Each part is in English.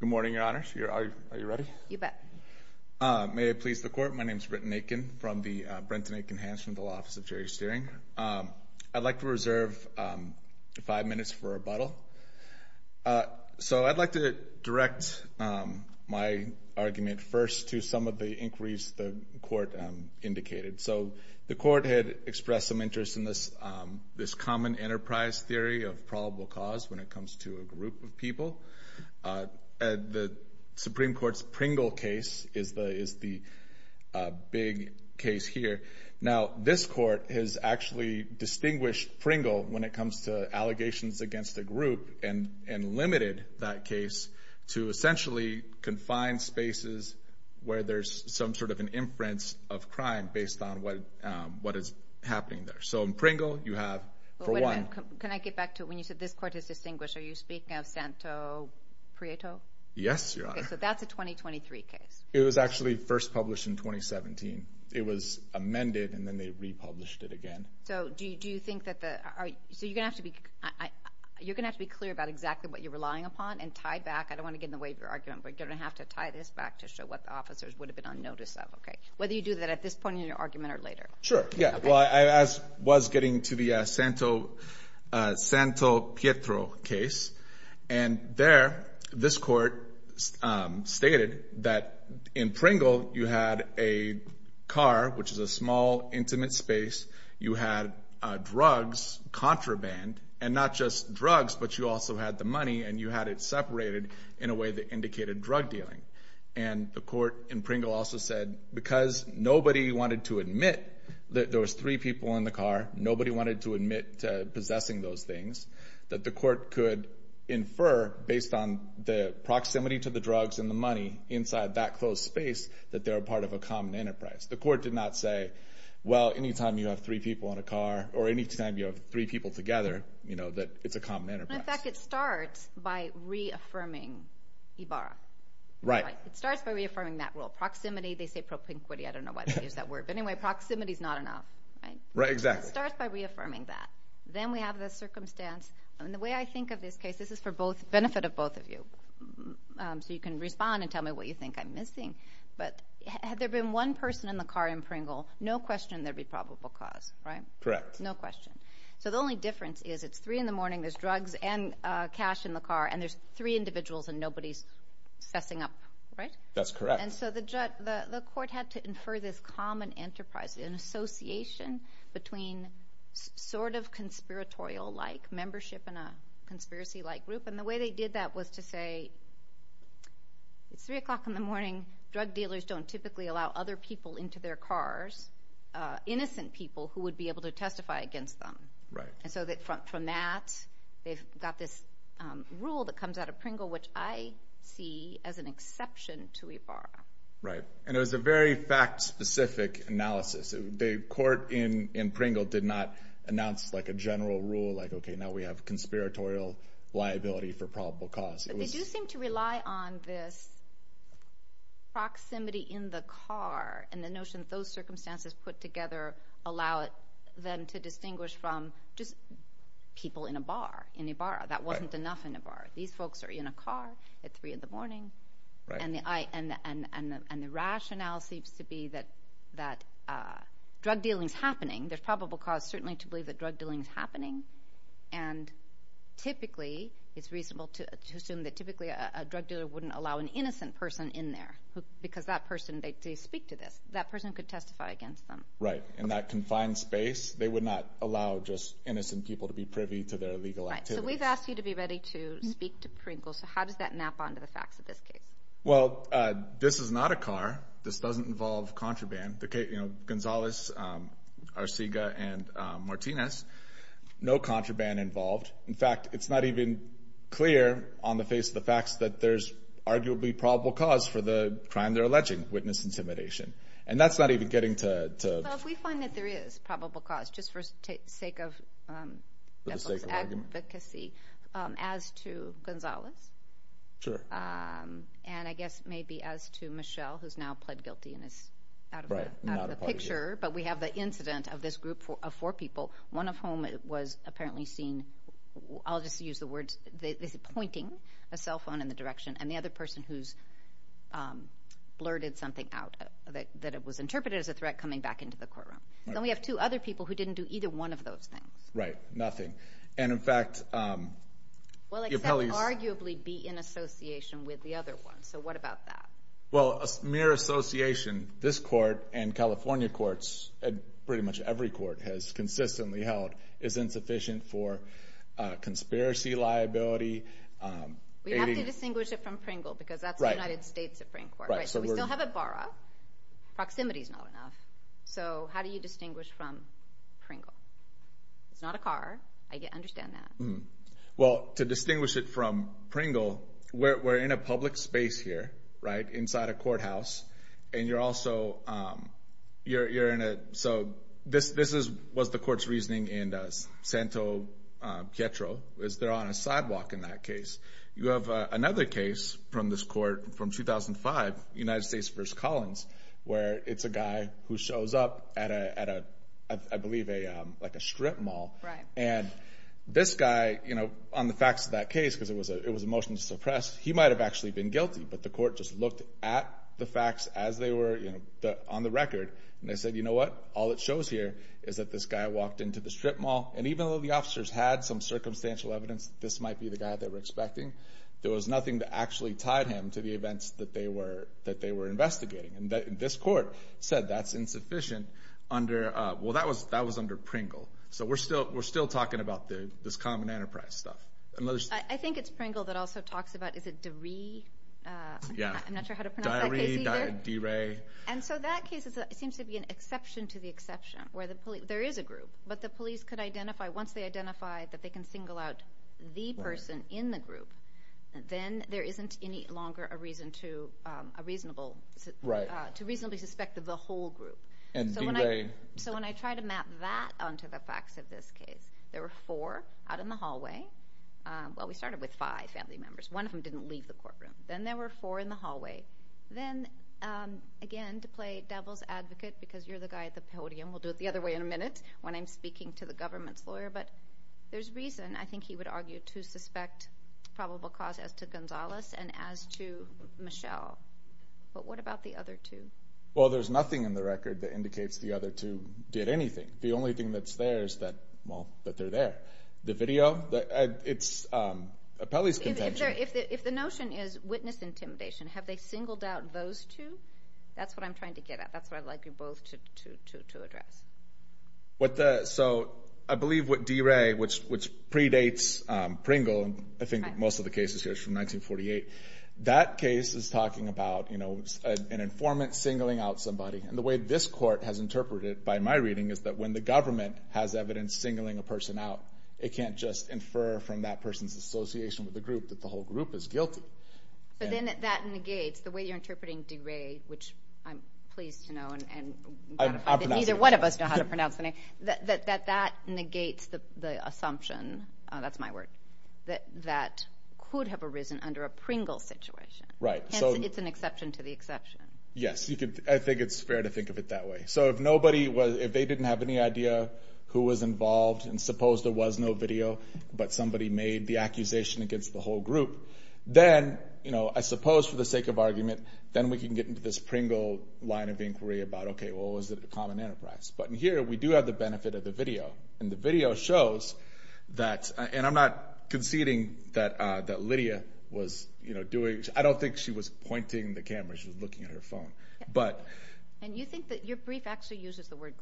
Good morning, your honors. Are you ready? You bet. May it please the court, my name is Britton Akin from the Brenton Akin Hanson Law Office of Jury Steering. I'd like to reserve five minutes for rebuttal. So I'd like to direct my argument first to some of the inquiries the court indicated. So the court had expressed some interest in this common enterprise theory of probable cause when it comes to a group of people. The Supreme Court's Pringle case is the big case here. Now this court has actually distinguished Pringle when it comes to allegations against a group and limited that case to essentially confined spaces where there's some sort of an inference of crime based on what is happening there. So in Pringle, you have for one... Can I get back to when you said this court has distinguished, are you speaking of Santo Prieto? Yes, your honor. So that's a 2023 case. It was actually first published in 2017. It was amended and then they republished it again. So do you think that the... so you're gonna have to be clear about exactly what you're relying upon and tie back, I don't want to get in the way of your argument, but you're gonna have to tie this back to show what the officers would have been on notice of, okay? Whether you do that at this point in your argument or later. Sure, yeah. Well, I was getting to the Santo Pietro case and there, this court stated that in Pringle, you had a car, which is a small intimate space. You had drugs, contraband, and not just drugs, but you also had the money and you had it separated in a way that indicated drug dealing. And the court in Pringle also said, because nobody wanted to admit that there was three people in the car, nobody wanted to admit to possessing those things, that the court could infer based on the proximity to the drugs and the money inside that closed space, that they're a part of a common enterprise. The court did not say, well, anytime you have three people in a car or anytime you have three people together, that it's a common enterprise. In fact, it starts by reaffirming Ibarra. Right. It starts by reaffirming that rule. Proximity, they say propinquity, I don't know why they use that word. But anyway, proximity is not enough, right? Right, exactly. It starts by reaffirming that. Then we have the circumstance. And the way I think of this case, this is for both, benefit of both of you. So you can respond and tell me what you think I'm missing. But had there been one person in the car in Pringle, no question there'd be probable cause, right? Correct. No question. So the only difference is it's three in the morning, there's drugs and cash in the car, and there's three individuals and nobody's sussing up, right? That's correct. And so the court had to infer this common enterprise, an association between sort of conspiratorial-like membership in a conspiracy-like group. And the way they did that was to say, it's three o'clock in the morning, drug dealers don't typically allow other people into their cars, innocent people who would be able to testify against them. Right. And so from that, they've got this rule that comes out of Pringle, which I see as an exception to IFARA. Right. And it was a very fact-specific analysis. The court in Pringle did not announce like a general rule, like, okay, now we have conspiratorial liability for probable cause. But they do seem to rely on this proximity in the car and the notion that those circumstances put just people in a bar, in a bar. That wasn't enough in a bar. These folks are in a car at three in the morning. And the rationale seems to be that drug dealing is happening. There's probable cause certainly to believe that drug dealing is happening. And typically, it's reasonable to assume that typically a drug dealer wouldn't allow an innocent person in there because that person, they speak to this, that person could testify against them. Right. In that confined space, they would not allow just innocent people to be privy to their legal activities. Right. So we've asked you to be ready to speak to Pringle. So how does that map onto the facts of this case? Well, this is not a car. This doesn't involve contraband. Gonzalez, Arcega, and Martinez, no contraband involved. In fact, it's not even clear on the face of the facts that there's arguably probable cause for the crime they're alleging, witness intimidation. And that's not even getting to... Well, if we find that there is probable cause, just for the sake of advocacy, as to Gonzalez. Sure. And I guess maybe as to Michelle, who's now pled guilty and is out of the picture. But we have the incident of this group of four people, one of whom was apparently seen, I'll just use the words, pointing a cell phone in the direction. And the other person who's blurted something out, that it was interpreted as a threat coming back into the courtroom. Then we have two other people who didn't do either one of those things. Right. Nothing. And in fact... Well, except arguably be in association with the other one. So what about that? Well, a mere association, this court and California courts, and pretty much every has consistently held is insufficient for conspiracy liability. We have to distinguish it from Pringle because that's the United States Supreme Court. Right. So we still have a bar up, proximity is not enough. So how do you distinguish from Pringle? It's not a car, I understand that. Well, to distinguish it from Pringle, we're in a public space here, inside a courthouse. So this was the court's reasoning in Santo Pietro, is there on a sidewalk in that case. You have another case from this court from 2005, United States v. Collins, where it's a guy who shows up at, I believe, a strip mall. And this guy, on the facts of that looked at the facts as they were on the record. And they said, you know what? All it shows here is that this guy walked into the strip mall. And even though the officers had some circumstantial evidence, this might be the guy that we're expecting, there was nothing that actually tied him to the events that they were investigating. And this court said that's insufficient under... Well, that was under Pringle. So we're still talking about this common enterprise stuff. I think it's Pringle that also talks about, is it DeRay? Yeah. I'm not sure how to pronounce that case either. DeRay. And so that case seems to be an exception to the exception, where there is a group, but the police could identify, once they identify that they can single out the person in the group, then there isn't any longer a reason to reasonably suspect the whole group. And DeRay... So when I try to map that onto the facts of this case, there were four out in the hallway. Well, we started with five family members. One of them didn't leave the courtroom. Then there were four in the hallway. Then, again, to play devil's advocate, because you're the guy at the podium, we'll do it the other way in a minute when I'm speaking to the government's lawyer, but there's reason, I think he would argue, to suspect probable cause as to Gonzalez and as to Michelle. But what about the other two? Well, there's nothing in the record that indicates the other two did anything. The only thing that's there is that, well, that they're there. The video, it's a Pelley's contention. If the notion is witness intimidation, have they singled out those two? That's what I'm trying to get at. That's what I'd like you both to address. So I believe what DeRay, which predates Pringle, I think most of the cases here is from 1948, that case is talking about an informant singling out somebody. And the way this court has singled a person out, it can't just infer from that person's association with the group that the whole group is guilty. So then that negates, the way you're interpreting DeRay, which I'm pleased to know, and neither one of us know how to pronounce the name, that that negates the assumption, that's my word, that that could have arisen under a Pringle situation. Right. It's an exception to the exception. Yes. I think it's fair to think of it that way. So if they didn't have any idea who was involved, and suppose there was no video, but somebody made the accusation against the whole group, then I suppose for the sake of argument, then we can get into this Pringle line of inquiry about, okay, well, is it a common enterprise? But in here, we do have the benefit of the video. And the video shows that, and I'm not conceding that Lydia was doing, I don't think she was pointing the camera, she was looking at her phone. And you think that your brief actually shows what?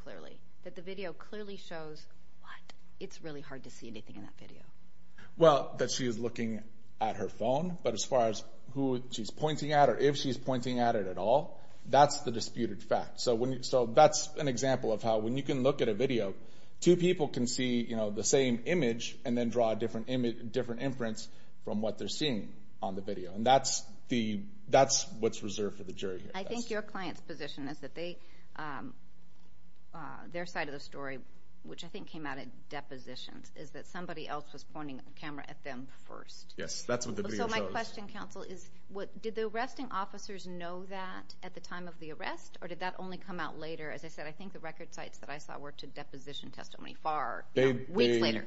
It's really hard to see anything in that video. Well, that she is looking at her phone, but as far as who she's pointing at, or if she's pointing at it at all, that's the disputed fact. So that's an example of how, when you can look at a video, two people can see the same image, and then draw a different inference from what they're seeing on the video. And that's what's reserved for the jury here. I think your client's position is that their side of the story, which I think came out at depositions, is that somebody else was pointing the camera at them first. Yes, that's what the video shows. So my question, counsel, is did the arresting officers know that at the time of the arrest, or did that only come out later? As I said, I think the record sites that I saw were to deposition testimony far weeks later.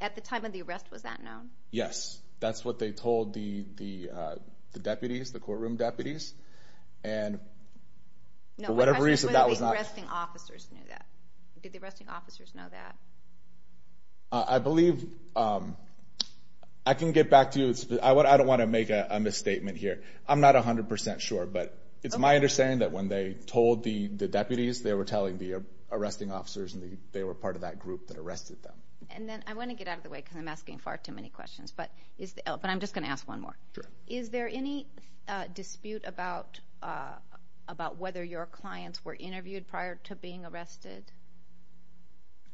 At the time of the arrest, was that known? Yes, that's what they told the deputies, the courtroom deputies. And for whatever reason, that was not... No, my question is whether the arresting officers knew that. Did the arresting officers know that? I believe... I can get back to you. I don't want to make a misstatement here. I'm not 100% sure, but it's my understanding that when they told the deputies, they were telling the arresting officers, and they were part of that group that arrested them. And then I want to get out of the way, because I'm asking far too many questions, but I'm just going to ask one more. Sure. Is there any dispute about whether your clients were interviewed prior to being arrested?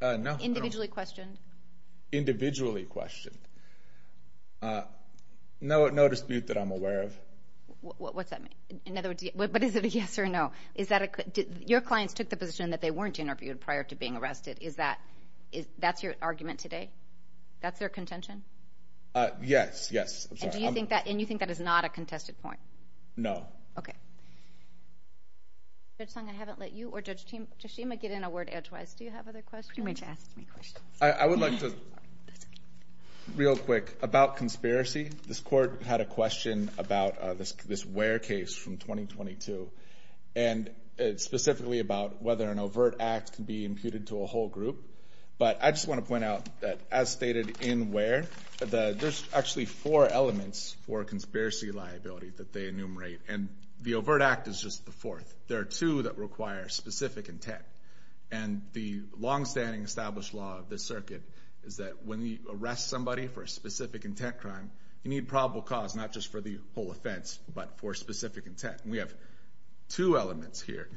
No. Individually questioned? Individually questioned. No dispute that I'm aware of. What's that mean? In other words, but is it a yes or no? Your clients took the position that they weren't interviewed prior to being arrested. Is that your argument today? That's their contention? Yes, yes. I'm sorry. And you think that is not a contested point? No. Okay. Judge Sung, I haven't let you or Judge Tashima get in a word edgewise. Do you have other questions? I would like to... Real quick, about conspiracy, this court had a question about this Ware case from 2022, and it's specifically about whether an overt act can be imputed to a whole group. But I just want to point out that, as stated in Ware, there's actually four elements for conspiracy liability that they enumerate, and the overt act is just the fourth. There are two that require specific intent. And the longstanding established law of this circuit is that when you arrest somebody for a specific intent crime, you need probable cause, not just for the whole offense, but for specific intent. And we have two elements here,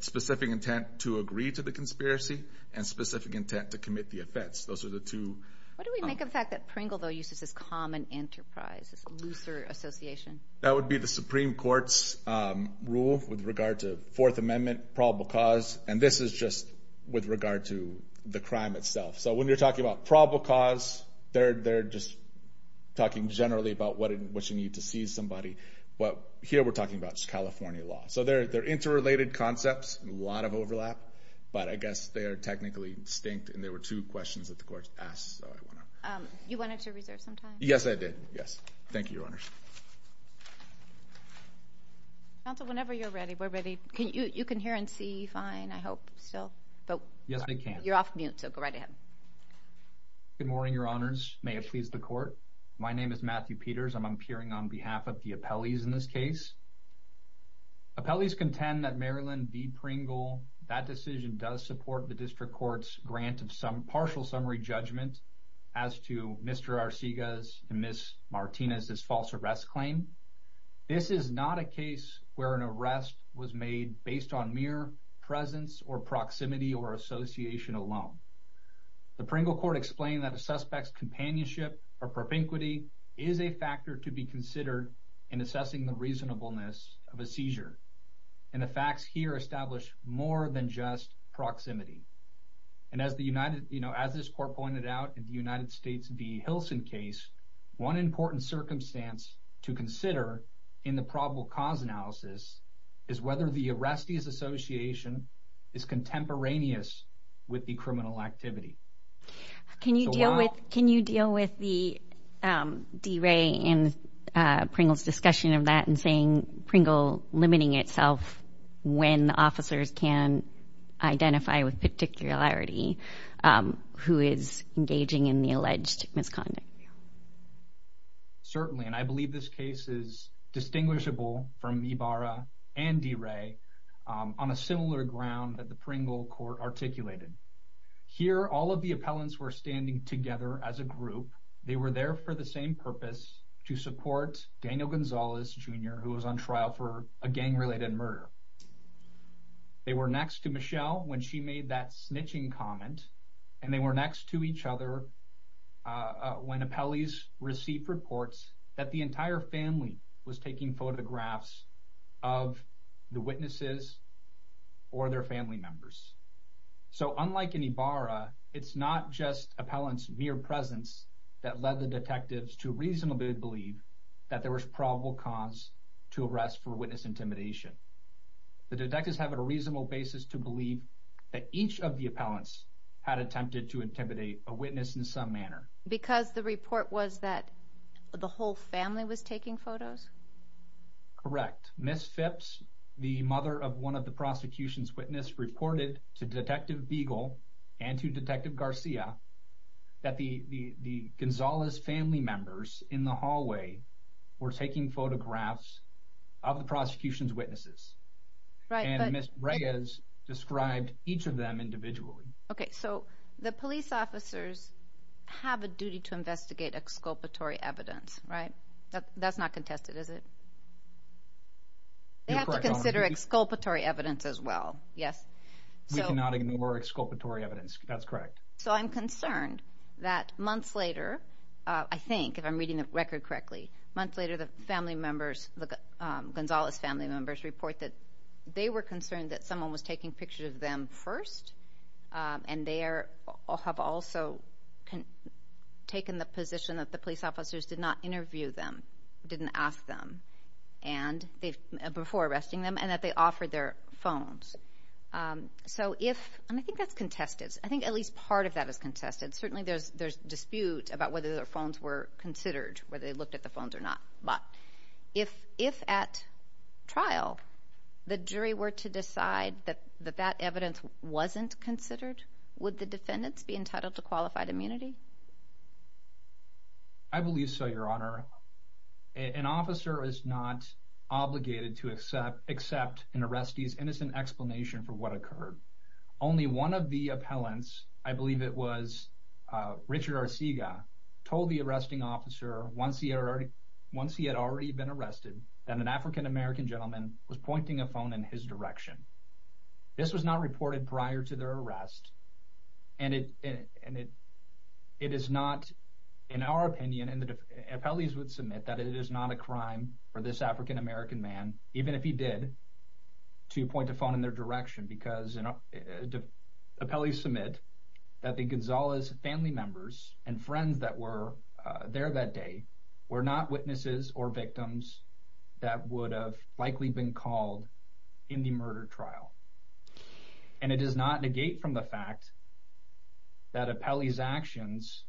specific intent to agree to the conspiracy and specific intent to commit the offense. Those are the two. What do we make of the fact that Pringle, though, uses this common enterprise, this looser association? That would be the Supreme Court's rule with regard to Fourth Amendment, probable cause. And this is just with regard to the crime itself. So when you're talking about probable cause, they're just talking generally about what you need to seize somebody. But here, we're talking about California law. So they're interrelated concepts, a lot of overlap, but I guess they are technically distinct, and there were two questions that the court asked, so I want to... You wanted to reserve some time? Yes, I did. Yes. Thank you, Your Honors. Counsel, whenever you're ready, we're ready. You can hear and see fine, I hope, still. But... Yes, I can. You're off mute, so go right ahead. Good morning, Your Honors. May it please the Court. My name is Matthew Peters, and I'm appearing on behalf of the appellees in this case. Appellees contend that Maryland v. Pringle, that decision does support the District Court's grant of partial summary judgment as to Mr. Arcega's and Ms. Martinez's false arrest claim. This is not a case where an arrest was made based on mere presence or companionship or propinquity. It is a factor to be considered in assessing the reasonableness of a seizure, and the facts here establish more than just proximity. And as the United... As this Court pointed out in the United States v. Hilson case, one important circumstance to consider in the probable cause analysis is whether the arrestee's association is contemporaneous with the criminal activity. Can you deal with... Can you deal with the... D. Ray and Pringle's discussion of that, and saying Pringle limiting itself when officers can identify with particularity who is engaging in the alleged misconduct? Certainly, and I believe this case is distinguishable from Ibarra and D. Ray on a similar ground that the Pringle Court articulated. Here, all of the appellants were standing together as a group. They were there for the same purpose, to support Daniel Gonzalez, Jr., who was on trial for a gang-related murder. They were next to Michelle when she made that snitching comment, and they were next to each other when appellees received reports that the appellants were either witnesses or their family members. So unlike in Ibarra, it's not just appellants' mere presence that led the detectives to reasonably believe that there was probable cause to arrest for witness intimidation. The detectives have a reasonable basis to believe that each of the appellants had attempted to intimidate a witness in some manner. Because the report was that the whole family was taking photos? Correct. Ms. Phipps, the mother of one of the prosecution's witnesses, reported to Detective Beagle and to Detective Garcia that the Gonzalez family members in the hallway were taking photographs of the prosecution's witnesses. And Ms. Reyes described each of them individually. Okay, so the police officers have a duty to investigate exculpatory evidence, right? That's not contested, is it? They have to consider exculpatory evidence as well, yes. We cannot ignore exculpatory evidence, that's correct. So I'm concerned that months later, I think, if I'm reading the record correctly, months later the family members, the Gonzalez family members, report that they were concerned that someone was taking pictures of them first, and they have also taken the position that the police officers did not interview them, didn't ask them before arresting them, and that they offered their phones. So if, and I think that's contested, I think at least part of that is contested. Certainly there's dispute about whether their phones were considered, whether they looked at the phones or not. But if at trial the jury were to decide that that evidence wasn't considered, would the defendants be entitled to qualified immunity? I believe so, Your Honor. An officer is not obligated to accept an arrestee's innocent explanation for what occurred. Only one of the appellants, I believe it was Richard Arcega, told the arresting officer once he had already been arrested that an African-American gentleman was pointing a phone in his direction. This was not reported prior to their arrest, and it is not, in our opinion, and the appellees would submit that it is not a crime for this African-American man, even if he did, to point a phone in their direction, because appellees submit that the Gonzalez family members and friends that were there that day were not called in the murder trial. And it does not negate from the fact that appellee's actions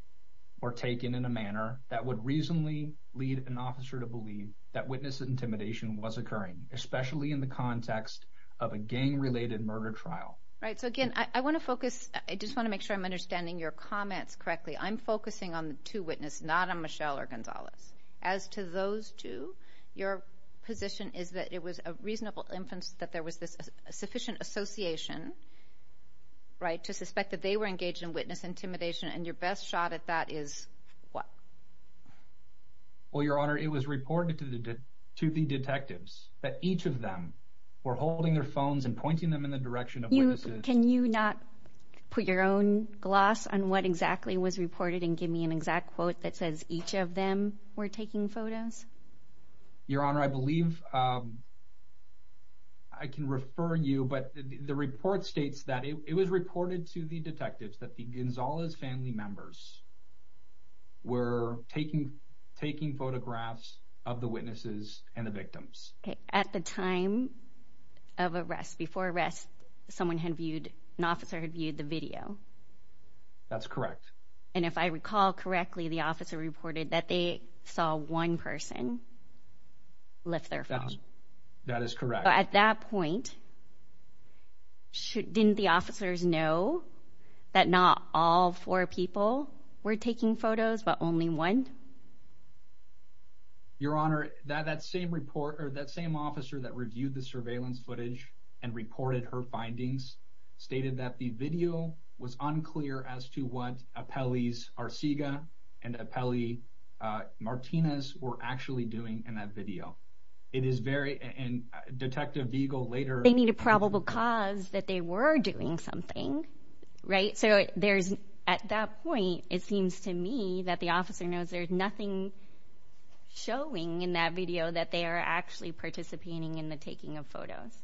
were taken in a manner that would reasonably lead an officer to believe that witness intimidation was occurring, especially in the context of a gang-related murder trial. Right, so again, I want to focus, I just want to make sure I'm understanding your comments correctly. I'm focusing on the two witnesses, not on Michelle or Gonzalez. As to those two, your position is that it was a reasonable inference that there was this sufficient association, right, to suspect that they were engaged in witness intimidation, and your best shot at that is what? Well, Your Honor, it was reported to the detectives that each of them were holding their phones and pointing them in the direction of witnesses. Can you not put your own gloss on what exactly was reported and give me an exact quote that says each of them were taking photos? Your Honor, I believe I can refer you, but the report states that it was reported to the detectives that the Gonzalez family members were taking photographs of the witnesses and the victims. Okay, at the time of arrest, before arrest, someone had viewed, an officer had viewed the video. That's correct. And if I recall correctly, the officer reported that they saw one person lift their phone. That is correct. At that point, didn't the officers know that not all four people were taking photos, but only one? Your Honor, that same report, or that same officer that reviewed the surveillance footage and reported her findings, stated that the video was unclear as to what Apelles Arcega and Apelles Martinez were actually doing in that video. It is very, and Detective Vigel later... They need a probable cause that they were doing something, right? So there's, at that point, it seems to me that the officer knows there's nothing showing in that video that they are actually participating in the taking of photos.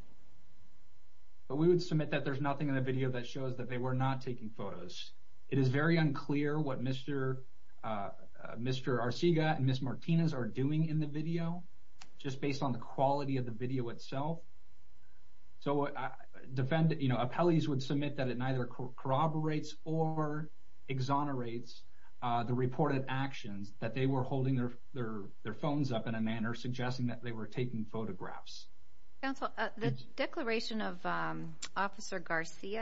But we would submit that there's nothing in the that shows that they were not taking photos. It is very unclear what Mr. Arcega and Ms. Martinez are doing in the video, just based on the quality of the video itself. So, Apelles would submit that it neither corroborates or exonerates the reported actions that they were holding their phones up in a manner suggesting that they were taking that video, or that they were not taking photos, or that they were not participating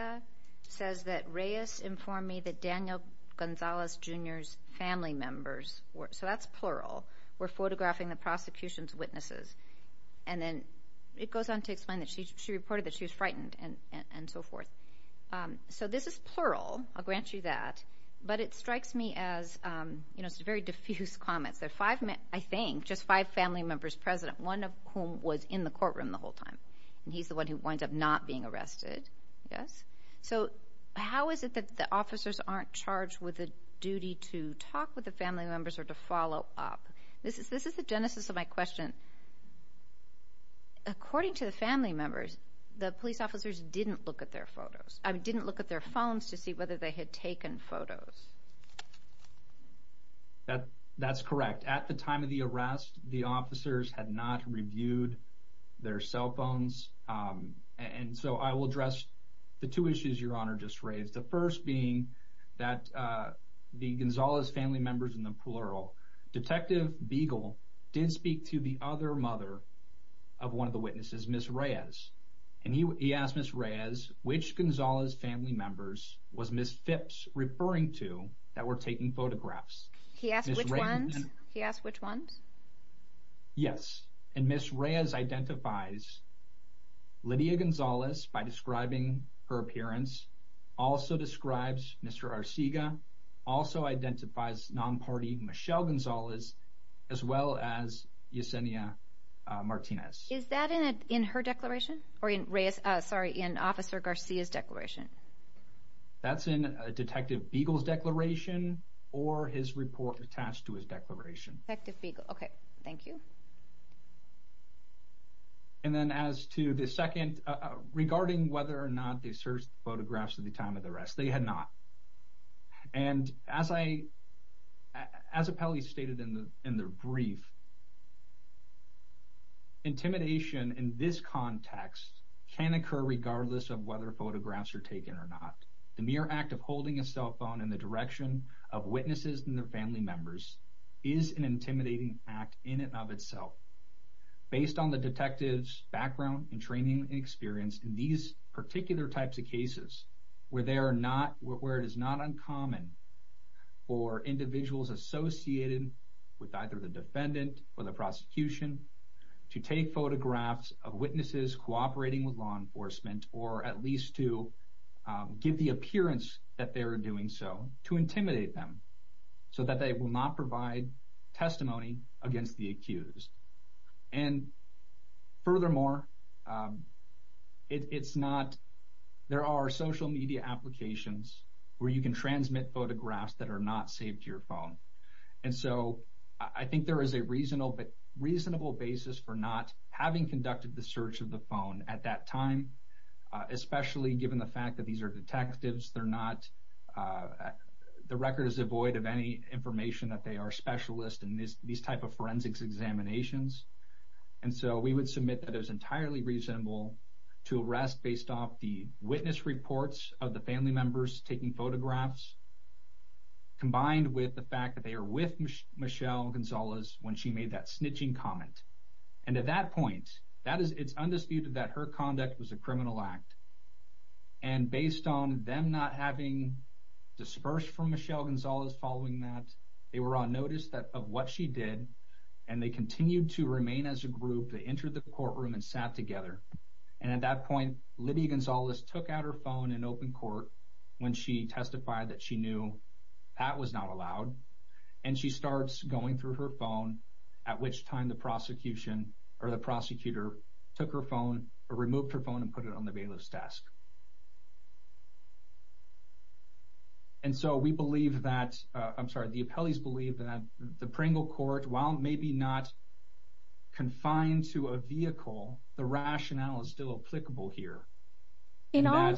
in the And then, it goes on to explain that she reported that she was frightened, and so forth. So, this is plural. I'll grant you that. But it strikes me as... It's a very diffuse comment. There are five, I think, just five family members present, one of whom was in the courtroom the So, how is it that the officers aren't charged with the duty to talk with the family members, or to follow up? This is the genesis of my question. According to the family members, the police officers didn't look at their photos. I mean, didn't look at their phones to see whether they had taken photos. That's correct. At the time of the arrest, the officers had not reviewed their cell phones. And so, I will address the two issues Your Honor just raised. The first being that the Gonzalez family members in the plural. Detective Beagle did speak to the other mother of one of the witnesses, Ms. Reyes. And he asked Ms. Reyes, which Gonzalez family members was Ms. Phipps referring to that were taking photographs? He asked which ones? He asked which ones? Yes. And Ms. Reyes identifies Lydia Gonzalez by describing her appearance. Also describes Mr. Arcega. Also identifies non-party Michelle Gonzalez, as well as Yesenia Martinez. Is that in her declaration? Or in Reyes, sorry, in Officer Garcia's declaration? That's in Detective Beagle's declaration, or his report attached to his declaration. Detective Beagle. Okay. Thank you. And then as to the second, regarding whether or not they searched the photographs at the time of the arrest, they had not. And as I, as Apelli stated in the brief, intimidation in this context can occur regardless of whether photographs are taken or not. The mere act of holding a cell phone in the direction of witnesses and their family members is an intimidating act in and of itself. Based on the detective's background and training and experience in these particular types of cases where they are not, where it is not uncommon for individuals associated with either the defendant or the prosecution to take photographs of witnesses cooperating with law enforcement, or at least to give the appearance that they are doing so, to intimidate them so that they will not provide testimony against the accused. And furthermore, it's not, there are social media applications where you can transmit photographs that are not saved to your phone. And so I think there is a reasonable basis for not having conducted the search of the phone at that time, especially given the fact that these are detectives, they're not, the record is devoid of any information that they are specialists in these type of forensics examinations. And so we would submit that it was entirely reasonable to arrest based off the witness reports of the family members taking photographs, combined with the fact that they are with Michelle Gonzalez when she made that snitching comment. And at that point, that is, it's undisputed that her conduct was a criminal act. And based on them not having dispersed from Michelle Gonzalez following that, they were on notice of what she did, and they continued to remain as a group. They entered the courtroom and sat together. And at that point, Liddy Gonzalez took out her phone and opened court when she testified that she knew that was not allowed. And she starts going through her phone, at which time the prosecution or the prosecutor took her phone or removed her phone and put it on the bailiff's desk. And so we believe that, I'm sorry, the appellees believe that the Pringle Court, while maybe not confined to a vehicle, the rationale is still applicable here. In all,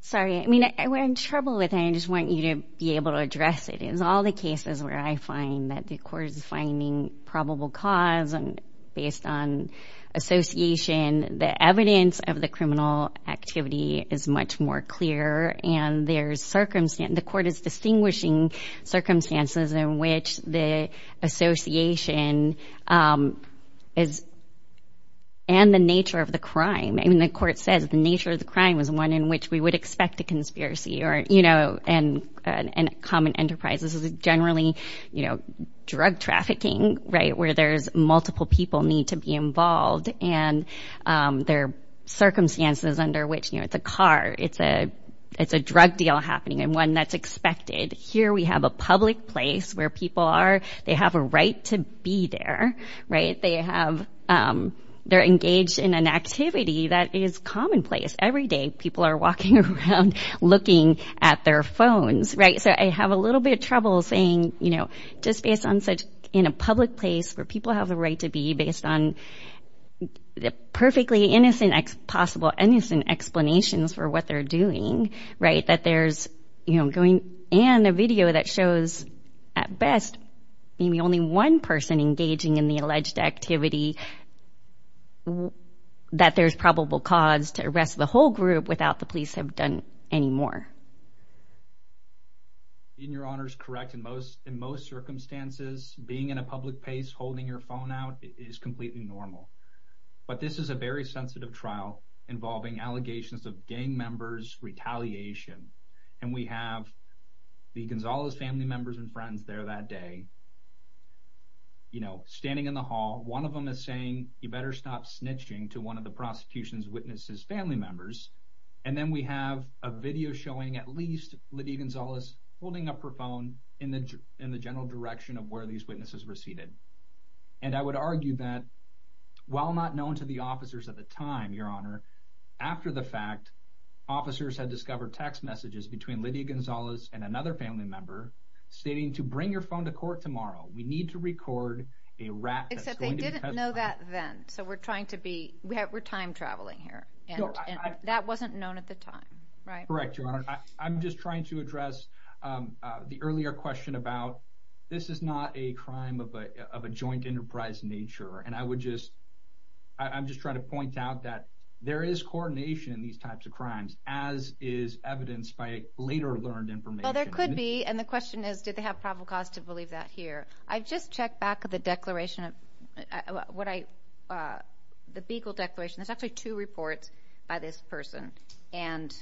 sorry, I mean, we're in trouble with it. I just want you to be able to address it. All the cases where I find that the court is finding probable cause and based on association, the evidence of the criminal activity is much more clear. And there's circumstance, the court is distinguishing circumstances in which the association is, and the nature of the crime, and the court says the nature of the crime was one in which we would expect a conspiracy or, and common enterprise. This is generally drug trafficking, right, where there's multiple people need to be involved and their circumstances under which, you know, it's a car, it's a drug deal happening and one that's expected. Here we have a public place where people are, they have a right to be there, right? They have, they're engaged in an activity that is commonplace. Every day, people are walking around looking at their phones, right? So I have a little bit of trouble saying, you know, just based on such in a public place where people have the right to be based on the perfectly innocent, possible innocent explanations for what they're doing, right, that there's, you know, going and a video that shows at best, maybe only one person engaging in the alleged activity, that there's probable cause to arrest the whole group without the police have done any more. In your honors, correct. In most, in most circumstances, being in a public place, holding your phone out is completely normal. But this is a very sensitive trial involving allegations of gang members retaliation. And we have the Gonzales family members and friends there that day, you know, standing in the hall, one of them is saying, you better stop snitching to one of the prosecution's witnesses, family members. And then we have a video showing at least Lydia Gonzales holding up her phone in the, in the general direction of where these witnesses receded. And I would argue that while not known to the officers at the time, your honor, after the fact officers had discovered text messages between Lydia Gonzales and another family member, stating to bring your phone to court tomorrow, we need to record a rat. Except they didn't know that then. So we're trying to be, we have, we're time traveling here. And that wasn't known at the time, right? Correct, your honor. I'm just trying to address the earlier question about this is not a crime of a, of a joint enterprise nature. And I would just, I'm just trying to point out that there is coordination in these types of crimes, as is evidenced by later learned information. Well, there could be. And the question is, did they have probable cause to believe that here? I've just checked back at the declaration of what I, the Beagle declaration. There's actually two reports by this person and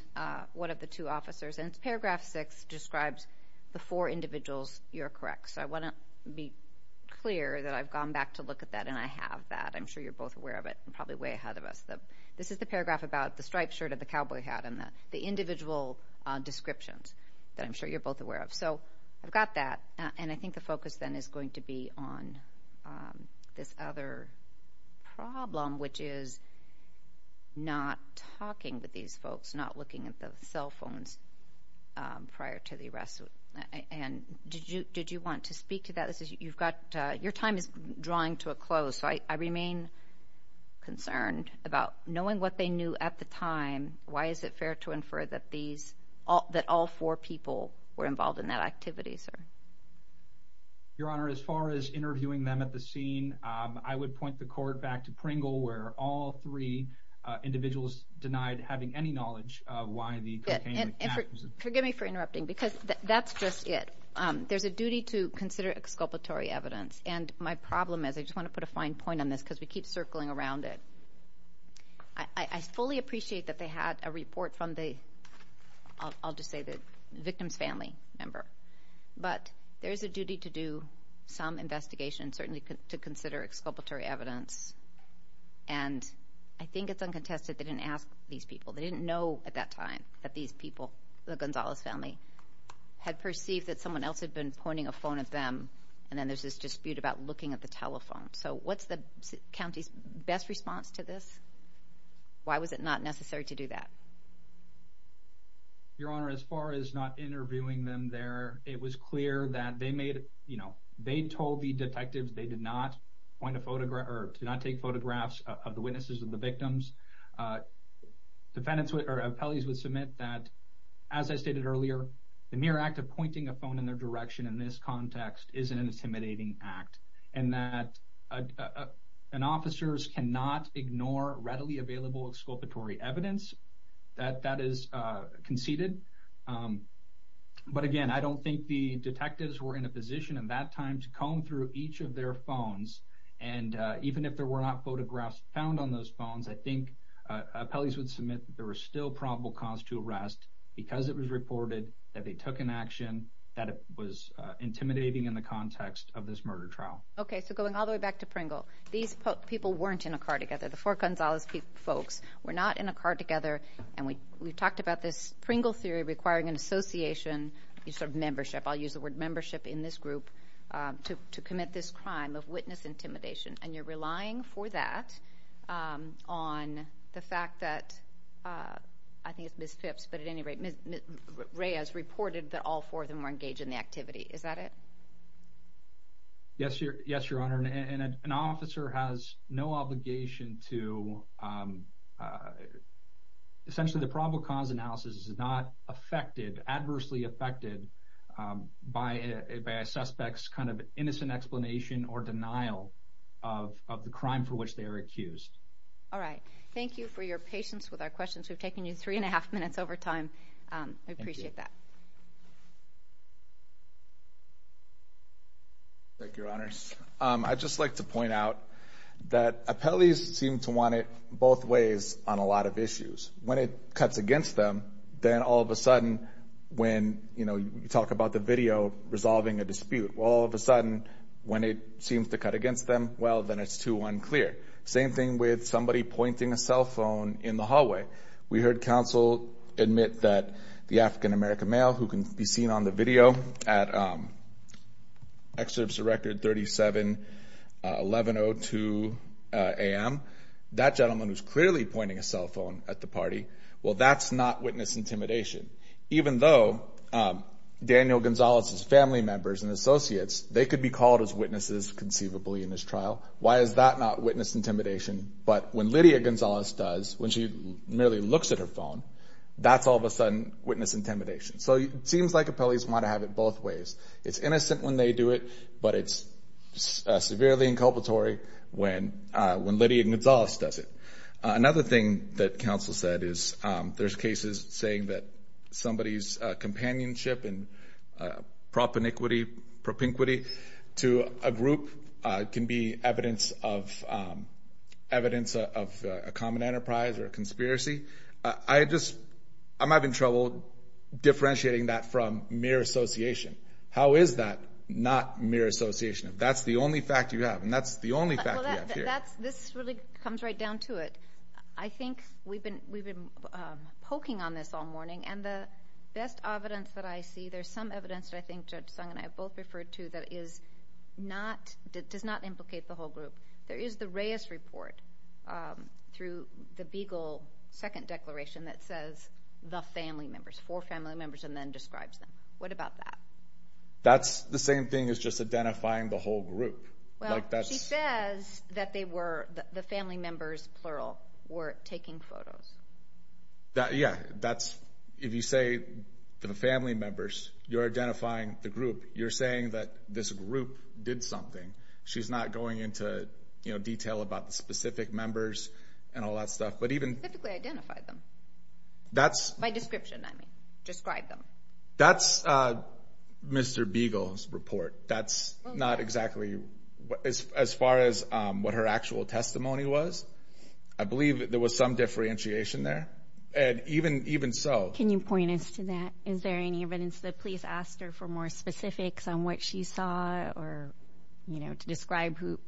one of the two officers and it's paragraph six describes the four individuals. You're correct. So I want to be clear that I've gone back to look at that. And I have that. I'm sure you're both of it and probably way ahead of us. This is the paragraph about the striped shirt of the cowboy hat and the individual descriptions that I'm sure you're both aware of. So I've got that. And I think the focus then is going to be on this other problem, which is not talking with these folks, not looking at the cell phones prior to the arrest. And did you, did you want to speak to that? Your time is drawing to a close. So I remain concerned about knowing what they knew at the time. Why is it fair to infer that these all, that all four people were involved in that activity, sir? Your Honor, as far as interviewing them at the scene, I would point the court back to Pringle, where all three individuals denied having any knowledge of why the. Forgive me for interrupting because that's just it. There's a duty to consider exculpatory evidence. And my problem is, I just want to put a fine point on this because we keep circling around it. I fully appreciate that they had a report from the, I'll just say the victim's family member, but there is a duty to do some investigation, certainly to consider exculpatory evidence. And I think it's uncontested they didn't ask these people. They didn't know at that time that these people, the Gonzalez family, had perceived that someone else had been pointing a phone at them. And then there's this dispute about looking at the telephone. So what's the county's best response to this? Why was it not necessary to do that? Your Honor, as far as not interviewing them there, it was clear that they made, you know, they told the detectives they did not point a photograph or to not take photographs of the that, as I stated earlier, the mere act of pointing a phone in their direction in this context is an intimidating act. And that an officer cannot ignore readily available exculpatory evidence that that is conceded. But again, I don't think the detectives were in a position at that time to comb through each of their phones. And even if there were not photographs found on those phones, I think appellees would submit that there was still probable cause to arrest because it was reported that they took an action that was intimidating in the context of this murder trial. Okay, so going all the way back to Pringle, these people weren't in a car together. The four Gonzalez folks were not in a car together. And we talked about this Pringle theory requiring an association, a sort of membership, I'll use the word membership in this group, to commit this crime of witness intimidation. And you're relying for that on the fact that, I think it's Ms. Phipps, but at any rate, Reyes reported that all four of them were engaged in the activity. Is that it? Yes, Your Honor. And an officer has no obligation to, essentially the probable cause analysis is not affected, adversely affected, by a suspect's kind of innocent explanation or denial of the crime for which they are accused. All right. Thank you for your patience with our questions. We've taken you three and a half minutes over time. I appreciate that. Thank you, Your Honors. I'd just like to point out that appellees seem to want it both ways on a lot of issues. When it cuts against them, then all of a sudden, when, you know, you talk about the video resolving a dispute, all of a sudden, when it seems to cut against them, well, then it's too unclear. Same thing with somebody pointing a cell phone in the hallway. We heard counsel admit that the African American male who can be seen on the video at Excerpts of Record 37-1102 AM, that gentleman who's clearly pointing a cell phone at the party, well, that's not witness intimidation. Even though Daniel Gonzalez's family members and associates, they could be called as witnesses conceivably in this trial. Why is that not witness intimidation? But when Lydia Gonzalez does, when she merely looks at her phone, that's all of a sudden witness intimidation. So it seems like appellees want to have it both ways. It's innocent when they do it, but it's severely inculpatory when Lydia Gonzalez does it. Another thing that counsel said is there's cases saying that somebody's companionship and propinquity to a group can be evidence of a common enterprise or a conspiracy. I'm having trouble differentiating that from mere association. How is that not mere association? That's the only fact you have. And that's the only fact you have here. This really comes right down to it. I think we've been poking on this all morning, and the best evidence that I see, there's some evidence that I think Judge Sung and I have both referred to that does not implicate the whole group. There is the Reyes Report through the Beagle Second Declaration that says the family members, four family members, and then describes them. What about that? That's the same thing as just identifying the whole group. Well, she says that the family members, plural, were taking photos. Yeah. If you say the family members, you're identifying the group. You're saying that this group did something. She's not going into detail about the specific members and all that Mr. Beagle's report. That's not exactly... As far as what her actual testimony was, I believe there was some differentiation there. And even so... Can you point us to that? Is there any evidence that police asked her for more specifics on what she saw or to describe who...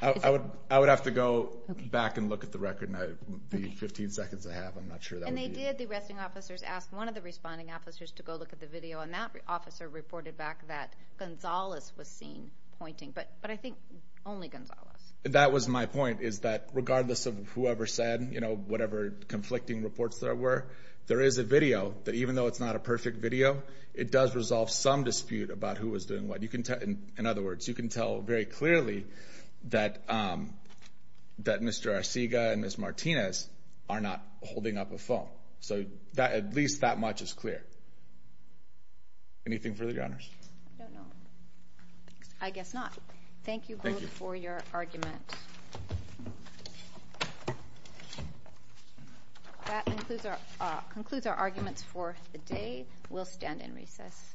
I would have to go back and look at the record and the 15 seconds I have. I'm not sure that would be... And they did, the arresting officers, asked one of the responding officers to go look at the video. And that officer reported back that Gonzalez was seen pointing. But I think only Gonzalez. That was my point, is that regardless of whoever said, whatever conflicting reports there were, there is a video that even though it's not a perfect video, it does resolve some dispute about who was doing what. In other words, you can tell very clearly that Mr. Arcega and Ms. So at least that much is clear. Anything further, Your Honors? I don't know. I guess not. Thank you both for your argument. That concludes our arguments for the day. We'll stand in recess. Okey-dokey.